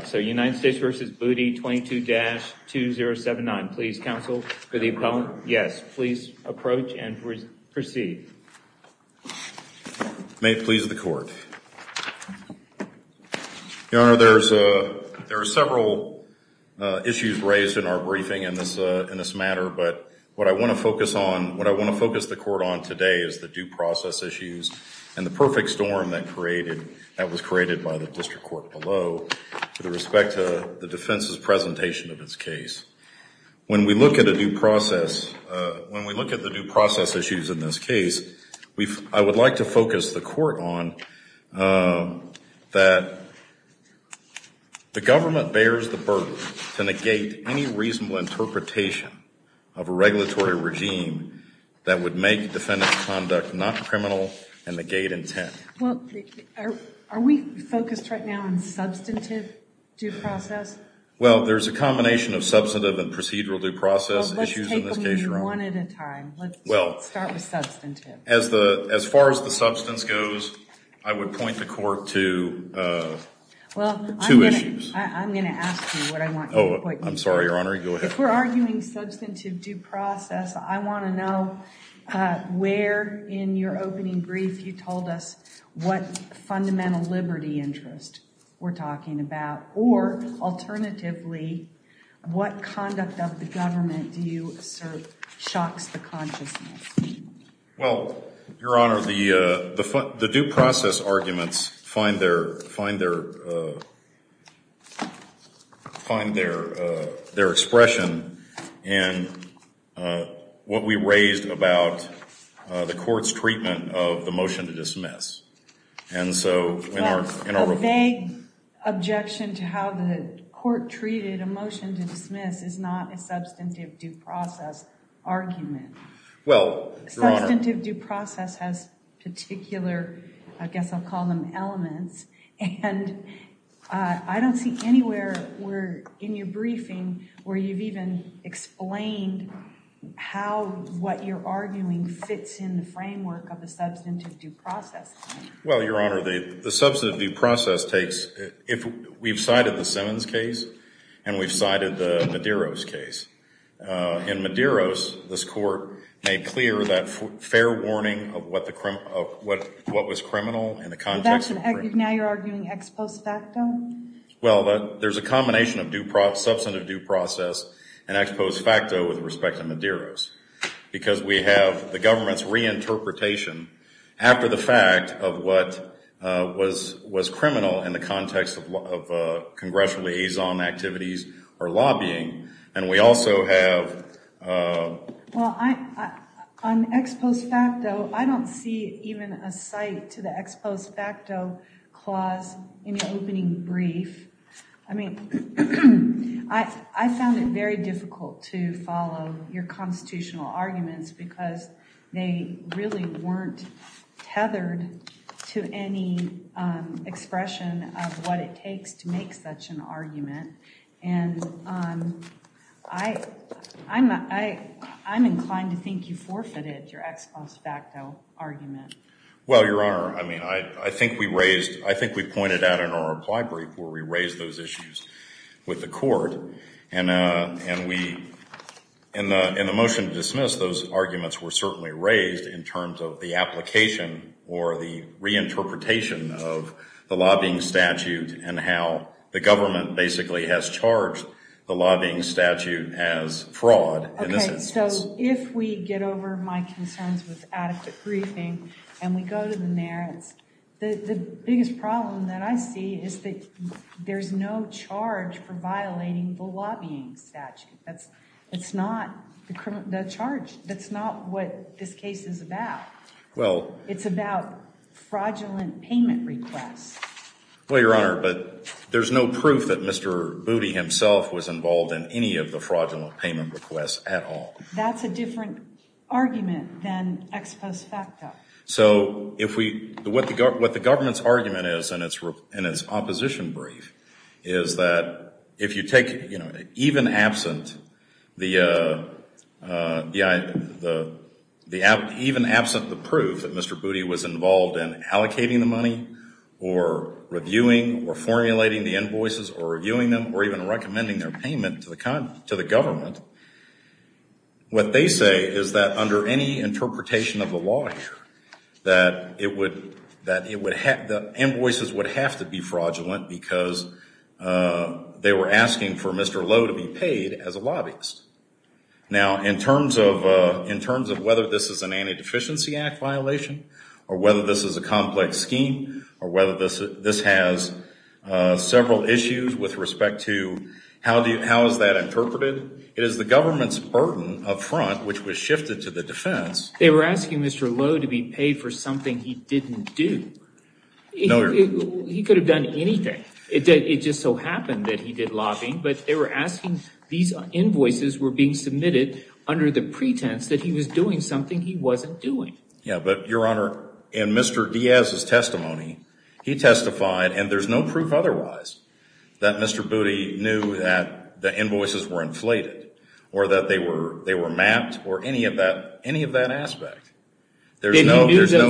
22-2079. Please counsel, for the appellant, yes, please approach and proceed. May it please the court. Your Honor, there are several issues raised in our briefing in this matter, but what I want to focus on, what I want to focus the court on today is the due process issues and the perfect storm that created, that was created by the District Court below to the result of the respect to the defense's presentation of its case. When we look at a due process, when we look at the due process issues in this case, I would like to focus the court on that the government bears the burden to negate any reasonable interpretation of a regulatory regime that would make defendant's conduct not criminal and negate intent. Well, are we focused right now on substantive due process? Well, there's a combination of substantive and procedural due process issues in this case, Your Honor. Well, let's take them one at a time. Let's start with substantive. As far as the substance goes, I would point the court to two issues. Well, I'm going to ask you what I want you to point me to. If we're arguing substantive due process, I want to know where in your opening brief you told us what fundamental liberty interest we're talking about, or alternatively, what conduct of the government do you assert shocks the consciousness? Well, Your Honor, the due process arguments find their expression in what we raised about the court's treatment of the motion to dismiss. A vague objection to how the court treated a motion to dismiss is not a substantive due process argument. Substantive due process has particular, I guess I'll call them elements, and I don't see anywhere in your briefing where you've even explained how what you're arguing fits in the framework of the substantive due process. Well, Your Honor, the substantive due process takes, we've cited the Simmons case and we've cited the Medeiros case. In Medeiros, this court made clear that fair warning of what was criminal in the context of- Now you're arguing ex post facto? Well, there's a combination of substantive due process and ex post facto with respect to Medeiros. Because we have the government's reinterpretation after the fact of what was criminal in the context of congressional liaison activities or lobbying, and we also have- Well, on ex post facto, I don't see even a cite to the ex post facto clause in the opening brief. I mean, I found it very difficult to follow your constitutional arguments because they really weren't tethered to any expression of what it takes to make such an argument. And I'm inclined to think you forfeited your ex post facto argument. Well, Your Honor, I mean, I think we raised, I think we pointed out in our reply brief where we raised those issues with the court. And we, in the motion to dismiss, those arguments were certainly raised in terms of the application or the reinterpretation of the lobbying statute and how the government basically has charged the lobbying statute as fraud in this instance. And so if we get over my concerns with adequate briefing and we go to the merits, the biggest problem that I see is that there's no charge for violating the lobbying statute. It's not the charge. That's not what this case is about. Well- It's about fraudulent payment requests. Well, Your Honor, but there's no proof that Mr. Booty himself was involved in any of the fraudulent payment requests at all. That's a different argument than ex post facto. So what the government's argument is in its opposition brief is that if you take, you know, even absent the proof that Mr. Booty was involved in allocating the money or reviewing or formulating the invoices or reviewing them or even recommending their payment to the government, what they say is that under any interpretation of the law here that it would, that it would, the invoices would have to be fraudulent because they were asking for Mr. Lowe to be paid as a lobbyist. Now, in terms of whether this is an anti-deficiency act violation or whether this is a complex scheme or whether this has several issues with respect to how is that interpreted, it is the government's burden up front, which was shifted to the defense- They were asking Mr. Lowe to be paid for something he didn't do. He could have done anything. It just so happened that he did lobbying, but they were asking, these invoices were being submitted under the pretense that he was doing something he wasn't doing. Yeah, but, Your Honor, in Mr. Diaz's testimony, he testified, and there's no proof otherwise, that Mr. Booty knew that the invoices were inflated or that they were mapped or any of that aspect. There's no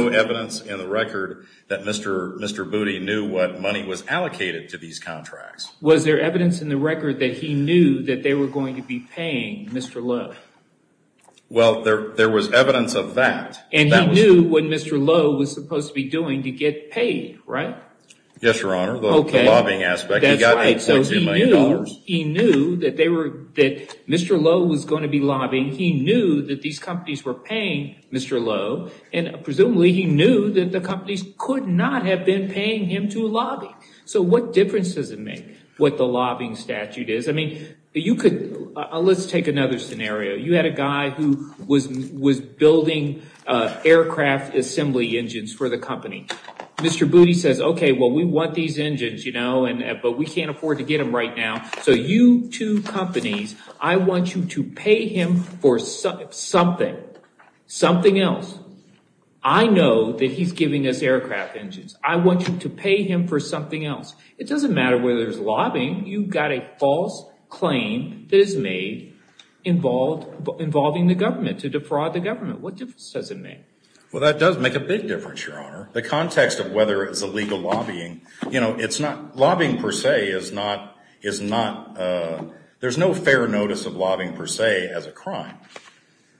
evidence in the record that Mr. Booty knew what money was allocated to these contracts. Was there evidence in the record that he knew that they were going to be paying Mr. Lowe? Well, there was evidence of that. And he knew what Mr. Lowe was supposed to be doing to get paid, right? Yes, Your Honor, the lobbying aspect. He knew that Mr. Lowe was going to be lobbying. He knew that these companies were paying Mr. Lowe, and presumably he knew that the companies could not have been paying him to lobby. So what difference does it make what the lobbying statute is? I mean, you could- let's take another scenario. You had a guy who was building aircraft assembly engines for the company. Mr. Booty says, okay, well, we want these engines, you know, but we can't afford to get them right now. So you two companies, I want you to pay him for something, something else. I know that he's giving us aircraft engines. I want you to pay him for something else. It doesn't matter whether there's lobbying. You've got a false claim that is made involving the government to defraud the government. What difference does it make? Well, that does make a big difference, Your Honor. The context of whether it's illegal lobbying, you know, it's not- lobbying per se is not- there's no fair notice of lobbying per se as a crime.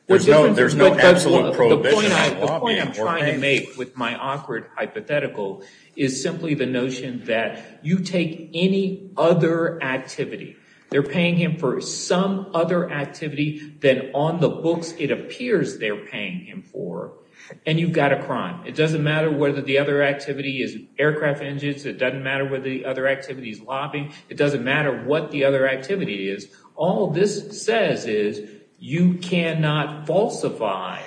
There's no absolute prohibition on lobbying. The point I'm trying to make with my awkward hypothetical is simply the notion that you take any other activity, they're paying him for some other activity than on the books it appears they're paying him for, and you've got a crime. It doesn't matter whether the other activity is aircraft engines. It doesn't matter whether the other activity is lobbying. It doesn't matter what the other activity is. All this says is you cannot falsify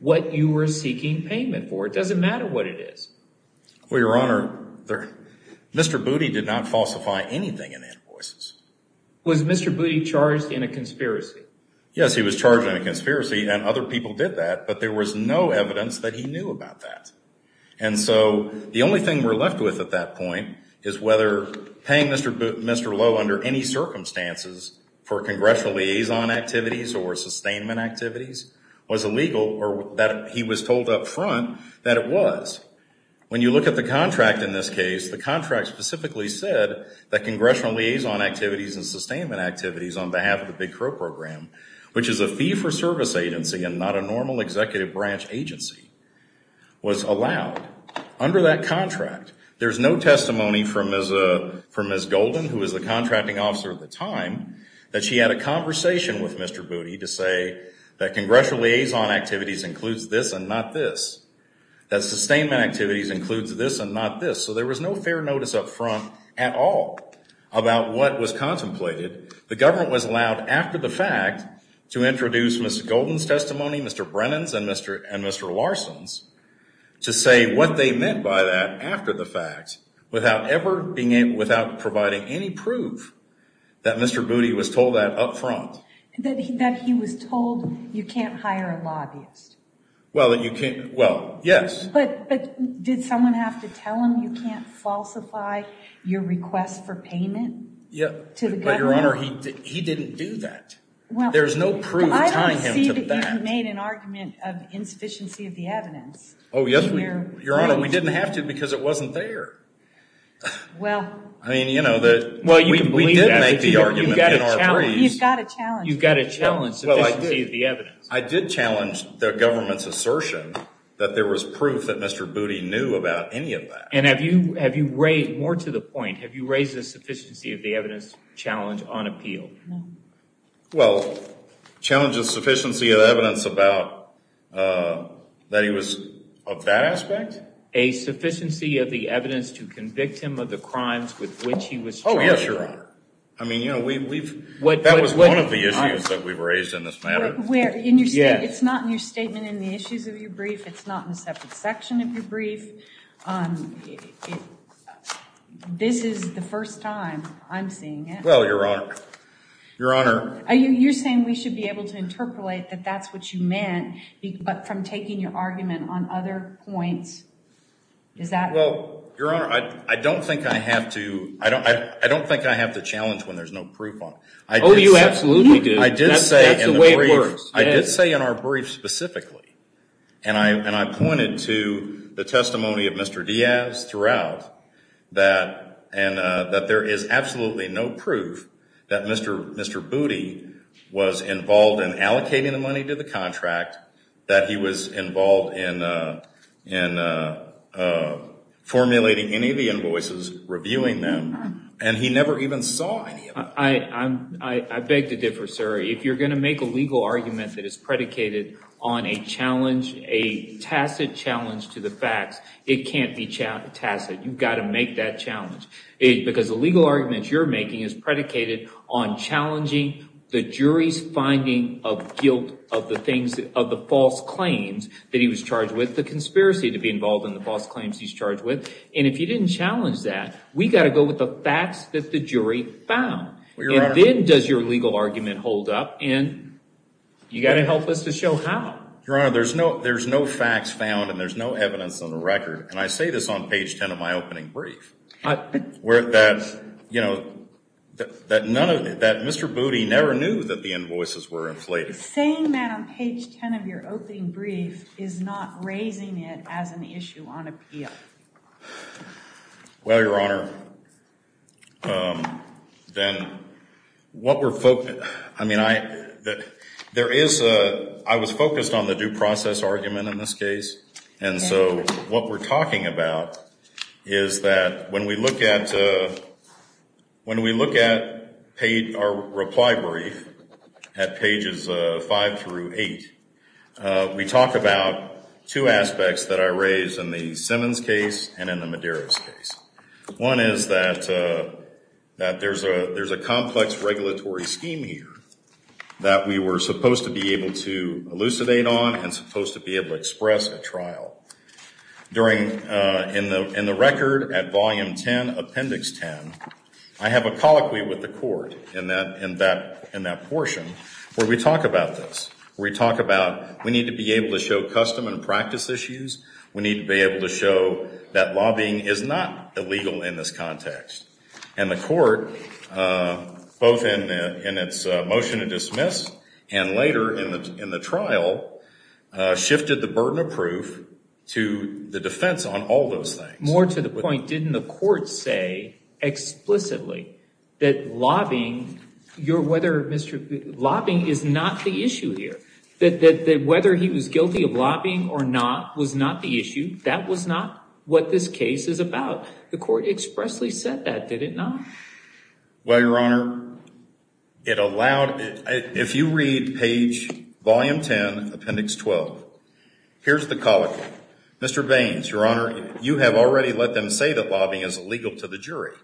what you were seeking payment for. It doesn't matter what it is. Well, Your Honor, Mr. Booty did not falsify anything in invoices. Was Mr. Booty charged in a conspiracy? Yes, he was charged in a conspiracy, and other people did that, but there was no evidence that he knew about that. And so the only thing we're left with at that point is whether paying Mr. Lowe under any circumstances for congressional liaison activities or sustainment activities was illegal, or that he was told up front that it was. When you look at the contract in this case, the contract specifically said that congressional liaison activities and sustainment activities on behalf of the Big Crow Program, which is a fee-for-service agency and not a normal executive branch agency, was allowed. Under that contract, there's no testimony from Ms. Golden, who was the contracting officer at the time, that she had a conversation with Mr. Booty to say that congressional liaison activities includes this and not this, that sustainment activities includes this and not this. So there was no fair notice up front at all about what was contemplated. The government was allowed, after the fact, to introduce Ms. Golden's testimony, Mr. Brennan's, and Mr. Larson's, to say what they meant by that after the fact without providing any proof that Mr. Booty was told that up front. That he was told you can't hire a lobbyist? Well, yes. But did someone have to tell him you can't falsify your request for payment to the government? But, Your Honor, he didn't do that. There's no proof tying him to that. I don't see that you've made an argument of insufficiency of the evidence. Oh, yes, Your Honor. We didn't have to because it wasn't there. Well. I mean, you know, we did make the argument in our briefs. He's got a challenge. You've got a challenge, sufficiency of the evidence. I did challenge the government's assertion that there was proof that Mr. Booty knew about any of that. And have you raised, more to the point, have you raised the sufficiency of the evidence challenge on appeal? Well, challenge of sufficiency of evidence about that he was of that aspect? A sufficiency of the evidence to convict him of the crimes with which he was charged. Oh, yes, Your Honor. I mean, you know, we've... That was one of the issues that we've raised in this matter. It's not in your statement in the issues of your brief. It's not in a separate section of your brief. This is the first time I'm seeing it. Well, Your Honor. Your Honor. You're saying we should be able to interpolate that that's what you meant, but from taking your argument on other points. Is that... Well, Your Honor, I don't think I have to... I don't think I have to challenge when there's no proof on it. Oh, you absolutely do. I did say in the brief. That's the way it works. I did say in our brief specifically. And I pointed to the testimony of Mr. Diaz throughout. That there is absolutely no proof that Mr. Booty was involved in allocating the money to the contract. That he was involved in formulating any of the invoices, reviewing them. And he never even saw any of them. I beg to differ, sir. If you're going to make a legal argument that is predicated on a challenge, a tacit challenge to the facts, it can't be tacit. You've got to make that challenge. Because the legal argument you're making is predicated on challenging the jury's finding of guilt of the things... Of the false claims that he was charged with. The conspiracy to be involved in the false claims he's charged with. And if you didn't challenge that, we've got to go with the facts that the jury found. And then does your legal argument hold up? And you've got to help us to show how. Your Honor, there's no facts found and there's no evidence on the record. And I say this on page 10 of my opening brief. That Mr. Booty never knew that the invoices were inflated. Saying that on page 10 of your opening brief is not raising it as an issue on appeal. Well, Your Honor, I was focused on the due process argument in this case. And so what we're talking about is that when we look at our reply brief at pages 5 through 8, we talk about two aspects that I raised in the Simmons case and in the Medeiros case. One is that there's a complex regulatory scheme here that we were supposed to be able to elucidate on and supposed to be able to express at trial. In the record at volume 10, appendix 10, I have a colloquy with the court in that portion where we talk about this. We talk about we need to be able to show custom and practice issues. We need to be able to show that lobbying is not illegal in this context. And the court, both in its motion to dismiss and later in the trial, shifted the burden of proof to the defense on all those things. More to the point, didn't the court say explicitly that lobbying is not the issue here? That whether he was guilty of lobbying or not was not the issue. That was not what this case is about. The court expressly said that, did it not? Well, Your Honor, if you read page volume 10, appendix 12, here's the colloquy. Mr. Baines, Your Honor, you have already let them say that lobbying is illegal to the jury.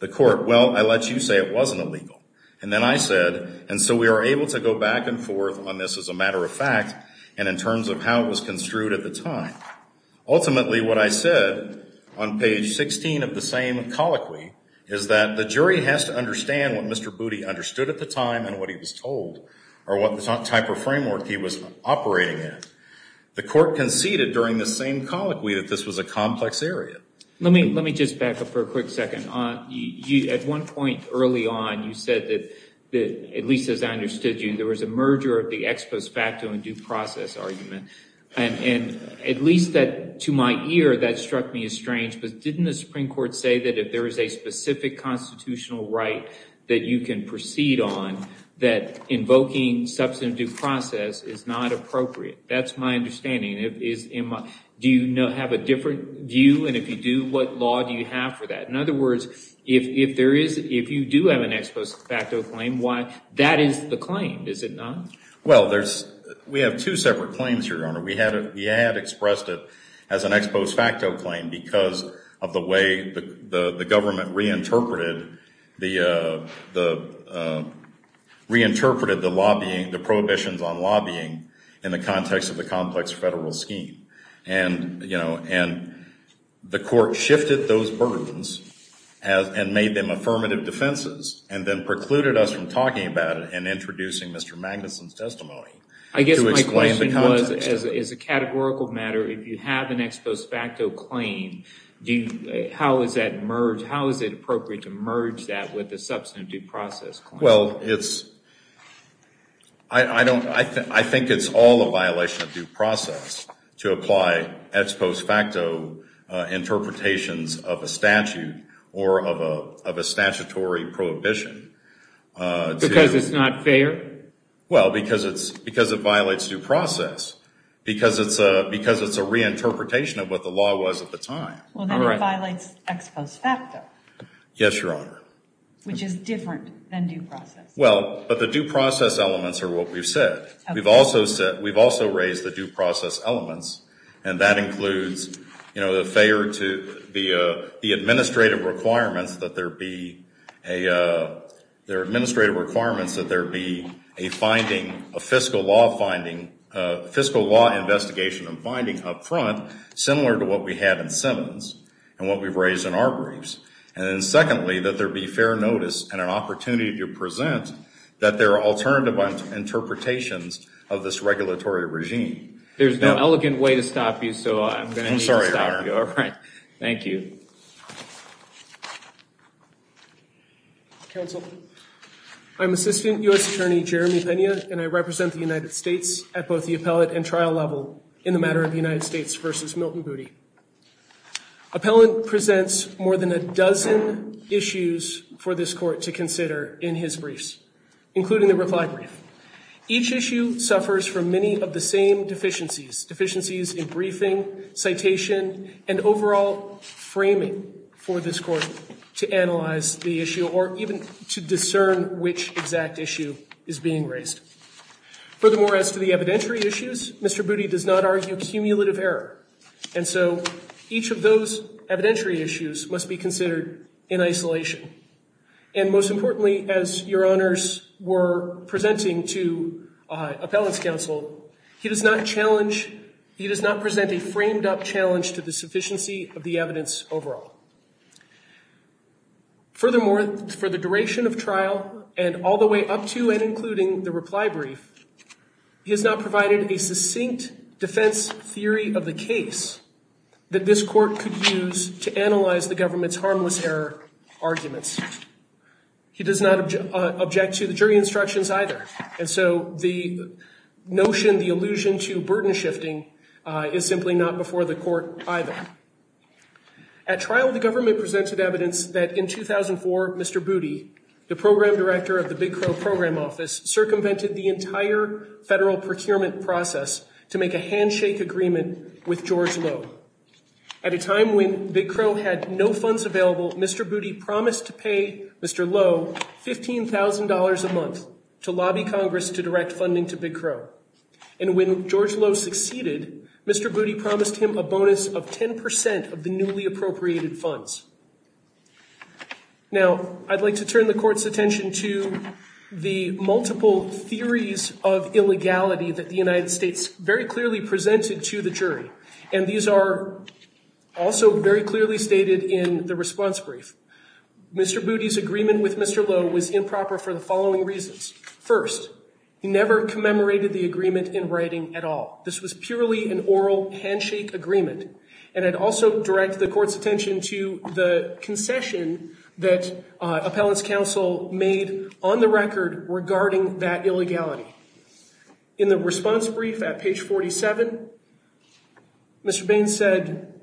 The court, well, I let you say it wasn't illegal. And then I said, and so we are able to go back and forth on this as a matter of fact and in terms of how it was construed at the time. Ultimately, what I said on page 16 of the same colloquy is that the jury has to understand what Mr. Booty understood at the time and what he was told or what type of framework he was operating in. The court conceded during the same colloquy that this was a complex area. Let me just back up for a quick second. At one point early on, you said that, at least as I understood you, there was a merger of the ex post facto and due process argument. And at least to my ear, that struck me as strange. But didn't the Supreme Court say that if there is a specific constitutional right that you can proceed on, that invoking substantive due process is not appropriate? That's my understanding. Do you have a different view? And if you do, what law do you have for that? In other words, if you do have an ex post facto claim, that is the claim, is it not? Well, we have two separate claims, Your Honor. We had expressed it as an ex post facto claim because of the way the government reinterpreted the lobbying, the prohibitions on lobbying in the context of the complex federal scheme. And, you know, the court shifted those burdens and made them affirmative defenses and then precluded us from talking about it and introducing Mr. Magnuson's testimony. I guess my question was, as a categorical matter, if you have an ex post facto claim, how is it appropriate to merge that with the substantive due process claim? Well, I think it's all a violation of due process to apply ex post facto interpretations of a statute or of a statutory prohibition. Because it's not fair? Well, because it violates due process, because it's a reinterpretation of what the law was at the time. Well, then it violates ex post facto. Yes, Your Honor. Which is different than due process. Well, but the due process elements are what we've said. We've also raised the due process elements, and that includes, you know, the administrative requirements that there be a fiscal law investigation and finding up front, similar to what we had in Simmons and what we've raised in our briefs. And then secondly, that there be fair notice and an opportunity to present that there are alternative interpretations of this regulatory regime. There's no elegant way to stop you, so I'm going to need to stop you. I'm sorry, Your Honor. All right. Thank you. Counsel, I'm Assistant U.S. Attorney Jeremy Pena, and I represent the United States at both the appellate and trial level in the matter of the United States v. Milton Booty. Appellant presents more than a dozen issues for this court to consider in his briefs, including the reply brief. Each issue suffers from many of the same deficiencies, deficiencies in briefing, citation, and overall framing for this court to analyze the issue or even to discern which exact issue is being raised. Furthermore, as to the evidentiary issues, Mr. Booty does not argue cumulative error, and so each of those evidentiary issues must be considered in isolation. And most importantly, as Your Honors were presenting to appellant's counsel, he does not challenge, he does not present a framed-up challenge to the sufficiency of the evidence overall. Furthermore, for the duration of trial and all the way up to and including the reply brief, he has not provided a succinct defense theory of the case that this court could use to analyze the government's harmless error arguments. He does not object to the jury instructions either, and so the notion, the allusion to burden shifting is simply not before the court either. At trial, the government presented evidence that in 2004, Mr. Booty, the program director of the Big Crow Program Office, circumvented the entire federal procurement process to make a handshake agreement with George Lowe. At a time when Big Crow had no funds available, Mr. Booty promised to pay Mr. Lowe $15,000 a month to lobby Congress to direct funding to Big Crow. And when George Lowe succeeded, Mr. Booty promised him a bonus of 10% of the newly appropriated funds. Now, I'd like to turn the court's attention to the multiple theories of illegality that the United States very clearly presented to the jury, and these are also very clearly stated in the response brief. Mr. Booty's agreement with Mr. Lowe was improper for the following reasons. First, he never commemorated the agreement in writing at all. This was purely an oral handshake agreement, and I'd also direct the court's attention to the concession that appellant's counsel made on the record regarding that illegality. In the response brief at page 47, Mr. Baines said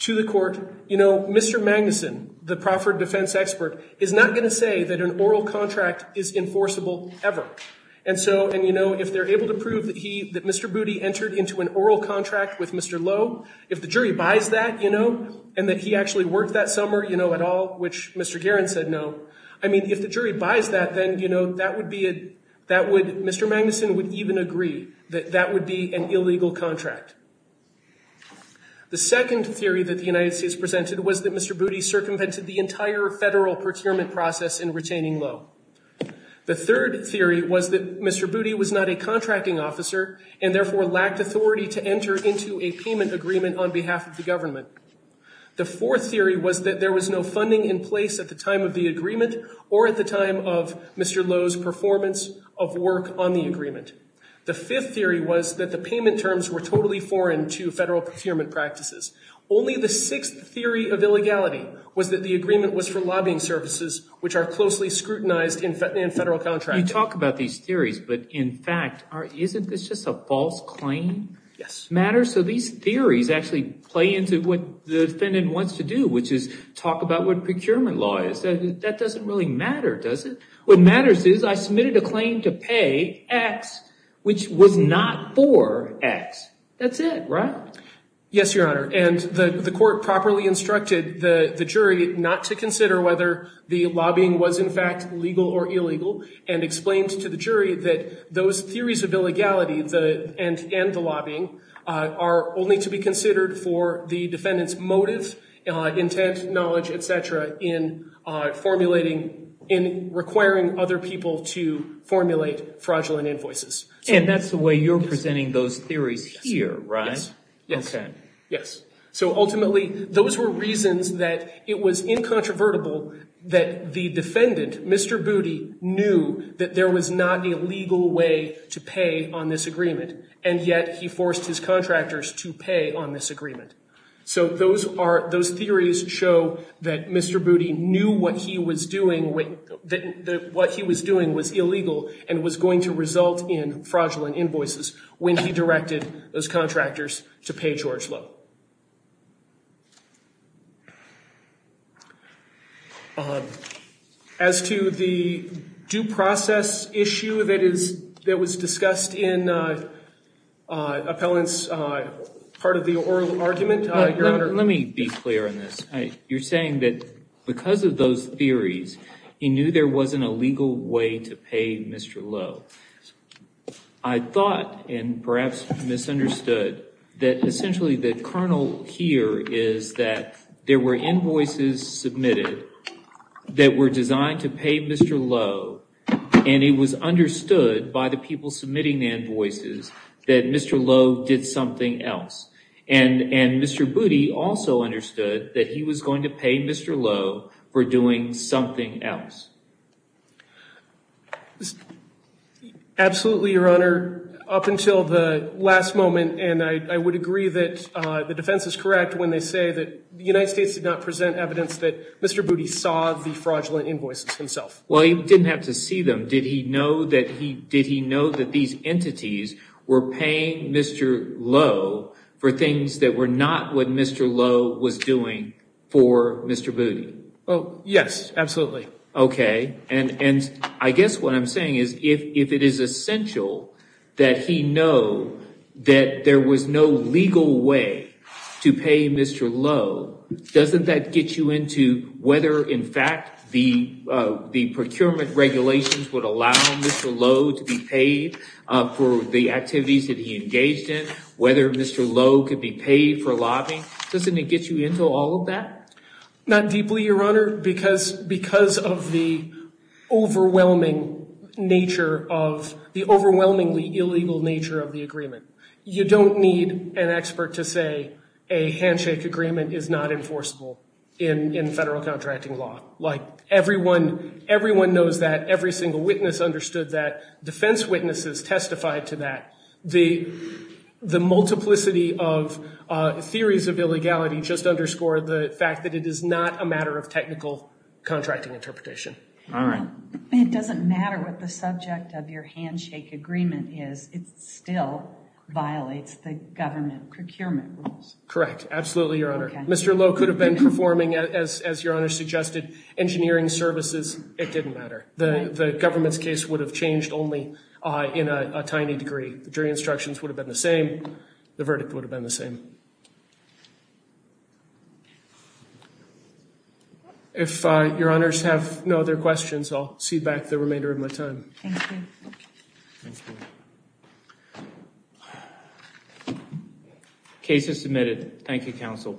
to the court, you know, Mr. Magnuson, the Crawford defense expert, is not going to say that an oral contract is enforceable ever. And so, and you know, if they're able to prove that he, that Mr. Booty entered into an oral contract with Mr. Lowe, if the jury buys that, you know, and that he actually worked that summer, you know, at all, which Mr. Guerin said no, I mean, if the jury buys that, then, you know, that would be a, that would, Mr. Magnuson would even agree that that would be an illegal contract. The second theory that the United States presented was that Mr. Booty circumvented the entire federal procurement process in retaining Lowe. The third theory was that Mr. Booty was not a contracting officer and therefore lacked authority to enter into a payment agreement on behalf of the government. The fourth theory was that there was no funding in place at the time of the Mr. Lowe's performance of work on the agreement. The fifth theory was that the payment terms were totally foreign to federal procurement practices. Only the sixth theory of illegality was that the agreement was for lobbying services, which are closely scrutinized in federal contracts. You talk about these theories, but in fact, isn't this just a false claim matter? So these theories actually play into what the defendant wants to do, which is talk about what procurement law is. That doesn't really matter, does it? What matters is I submitted a claim to pay X, which was not for X. That's it, right? Yes, Your Honor, and the court properly instructed the jury not to consider whether the lobbying was in fact legal or illegal and explained to the jury that those theories of illegality and the lobbying are only to be considered for the defendant's motive, intent, knowledge, et cetera, in requiring other people to formulate fraudulent invoices. And that's the way you're presenting those theories here, right? Yes. Okay. Yes. So ultimately, those were reasons that it was incontrovertible that the defendant, Mr. Booty, knew that there was not a legal way to pay on this agreement, and yet he forced his contractors to pay on this agreement. So those theories show that Mr. Booty knew what he was doing was illegal and was going to result in fraudulent invoices when he directed those contractors to pay George Lowe. As to the due process issue that was discussed in appellant's part of the argument, Your Honor. Let me be clear on this. You're saying that because of those theories, he knew there wasn't a legal way to pay Mr. Lowe. I thought, and perhaps misunderstood, that essentially the kernel here is that there were invoices submitted that were designed to pay Mr. Lowe, and Mr. Booty also understood that he was going to pay Mr. Lowe for doing something else. Absolutely, Your Honor. Up until the last moment, and I would agree that the defense is correct when they say that the United States did not present evidence that Mr. Booty saw the fraudulent invoices himself. Well, he didn't have to see them. Did he know that these entities were paying Mr. Lowe for things that were not what Mr. Lowe was doing for Mr. Booty? Yes, absolutely. Okay. And I guess what I'm saying is if it is essential that he know that there was no legal way to pay Mr. Lowe, doesn't that get you into whether in fact the procurement regulations would allow Mr. Lowe to be paid for the activities that he engaged in, whether Mr. Lowe could be paid for lobbying? Doesn't it get you into all of that? Not deeply, Your Honor, because of the overwhelmingly illegal nature of the agreement. You don't need an expert to say a handshake agreement is not enforceable in federal contracting law. Everyone knows that. Every single witness understood that. Defense witnesses testified to that. The multiplicity of theories of illegality just underscore the fact that it is not a matter of technical contracting interpretation. All right. It doesn't matter what the subject of your handshake agreement is. It still violates the government procurement rules. Correct. Absolutely, Your Honor. Mr. Lowe could have been performing, as Your Honor suggested, engineering services. It didn't matter. The government's case would have changed only in a tiny degree. The jury instructions would have been the same. The verdict would have been the same. I'll cede back the remainder of my time. Thank you. Thank you. Case is submitted. Thank you, counsel.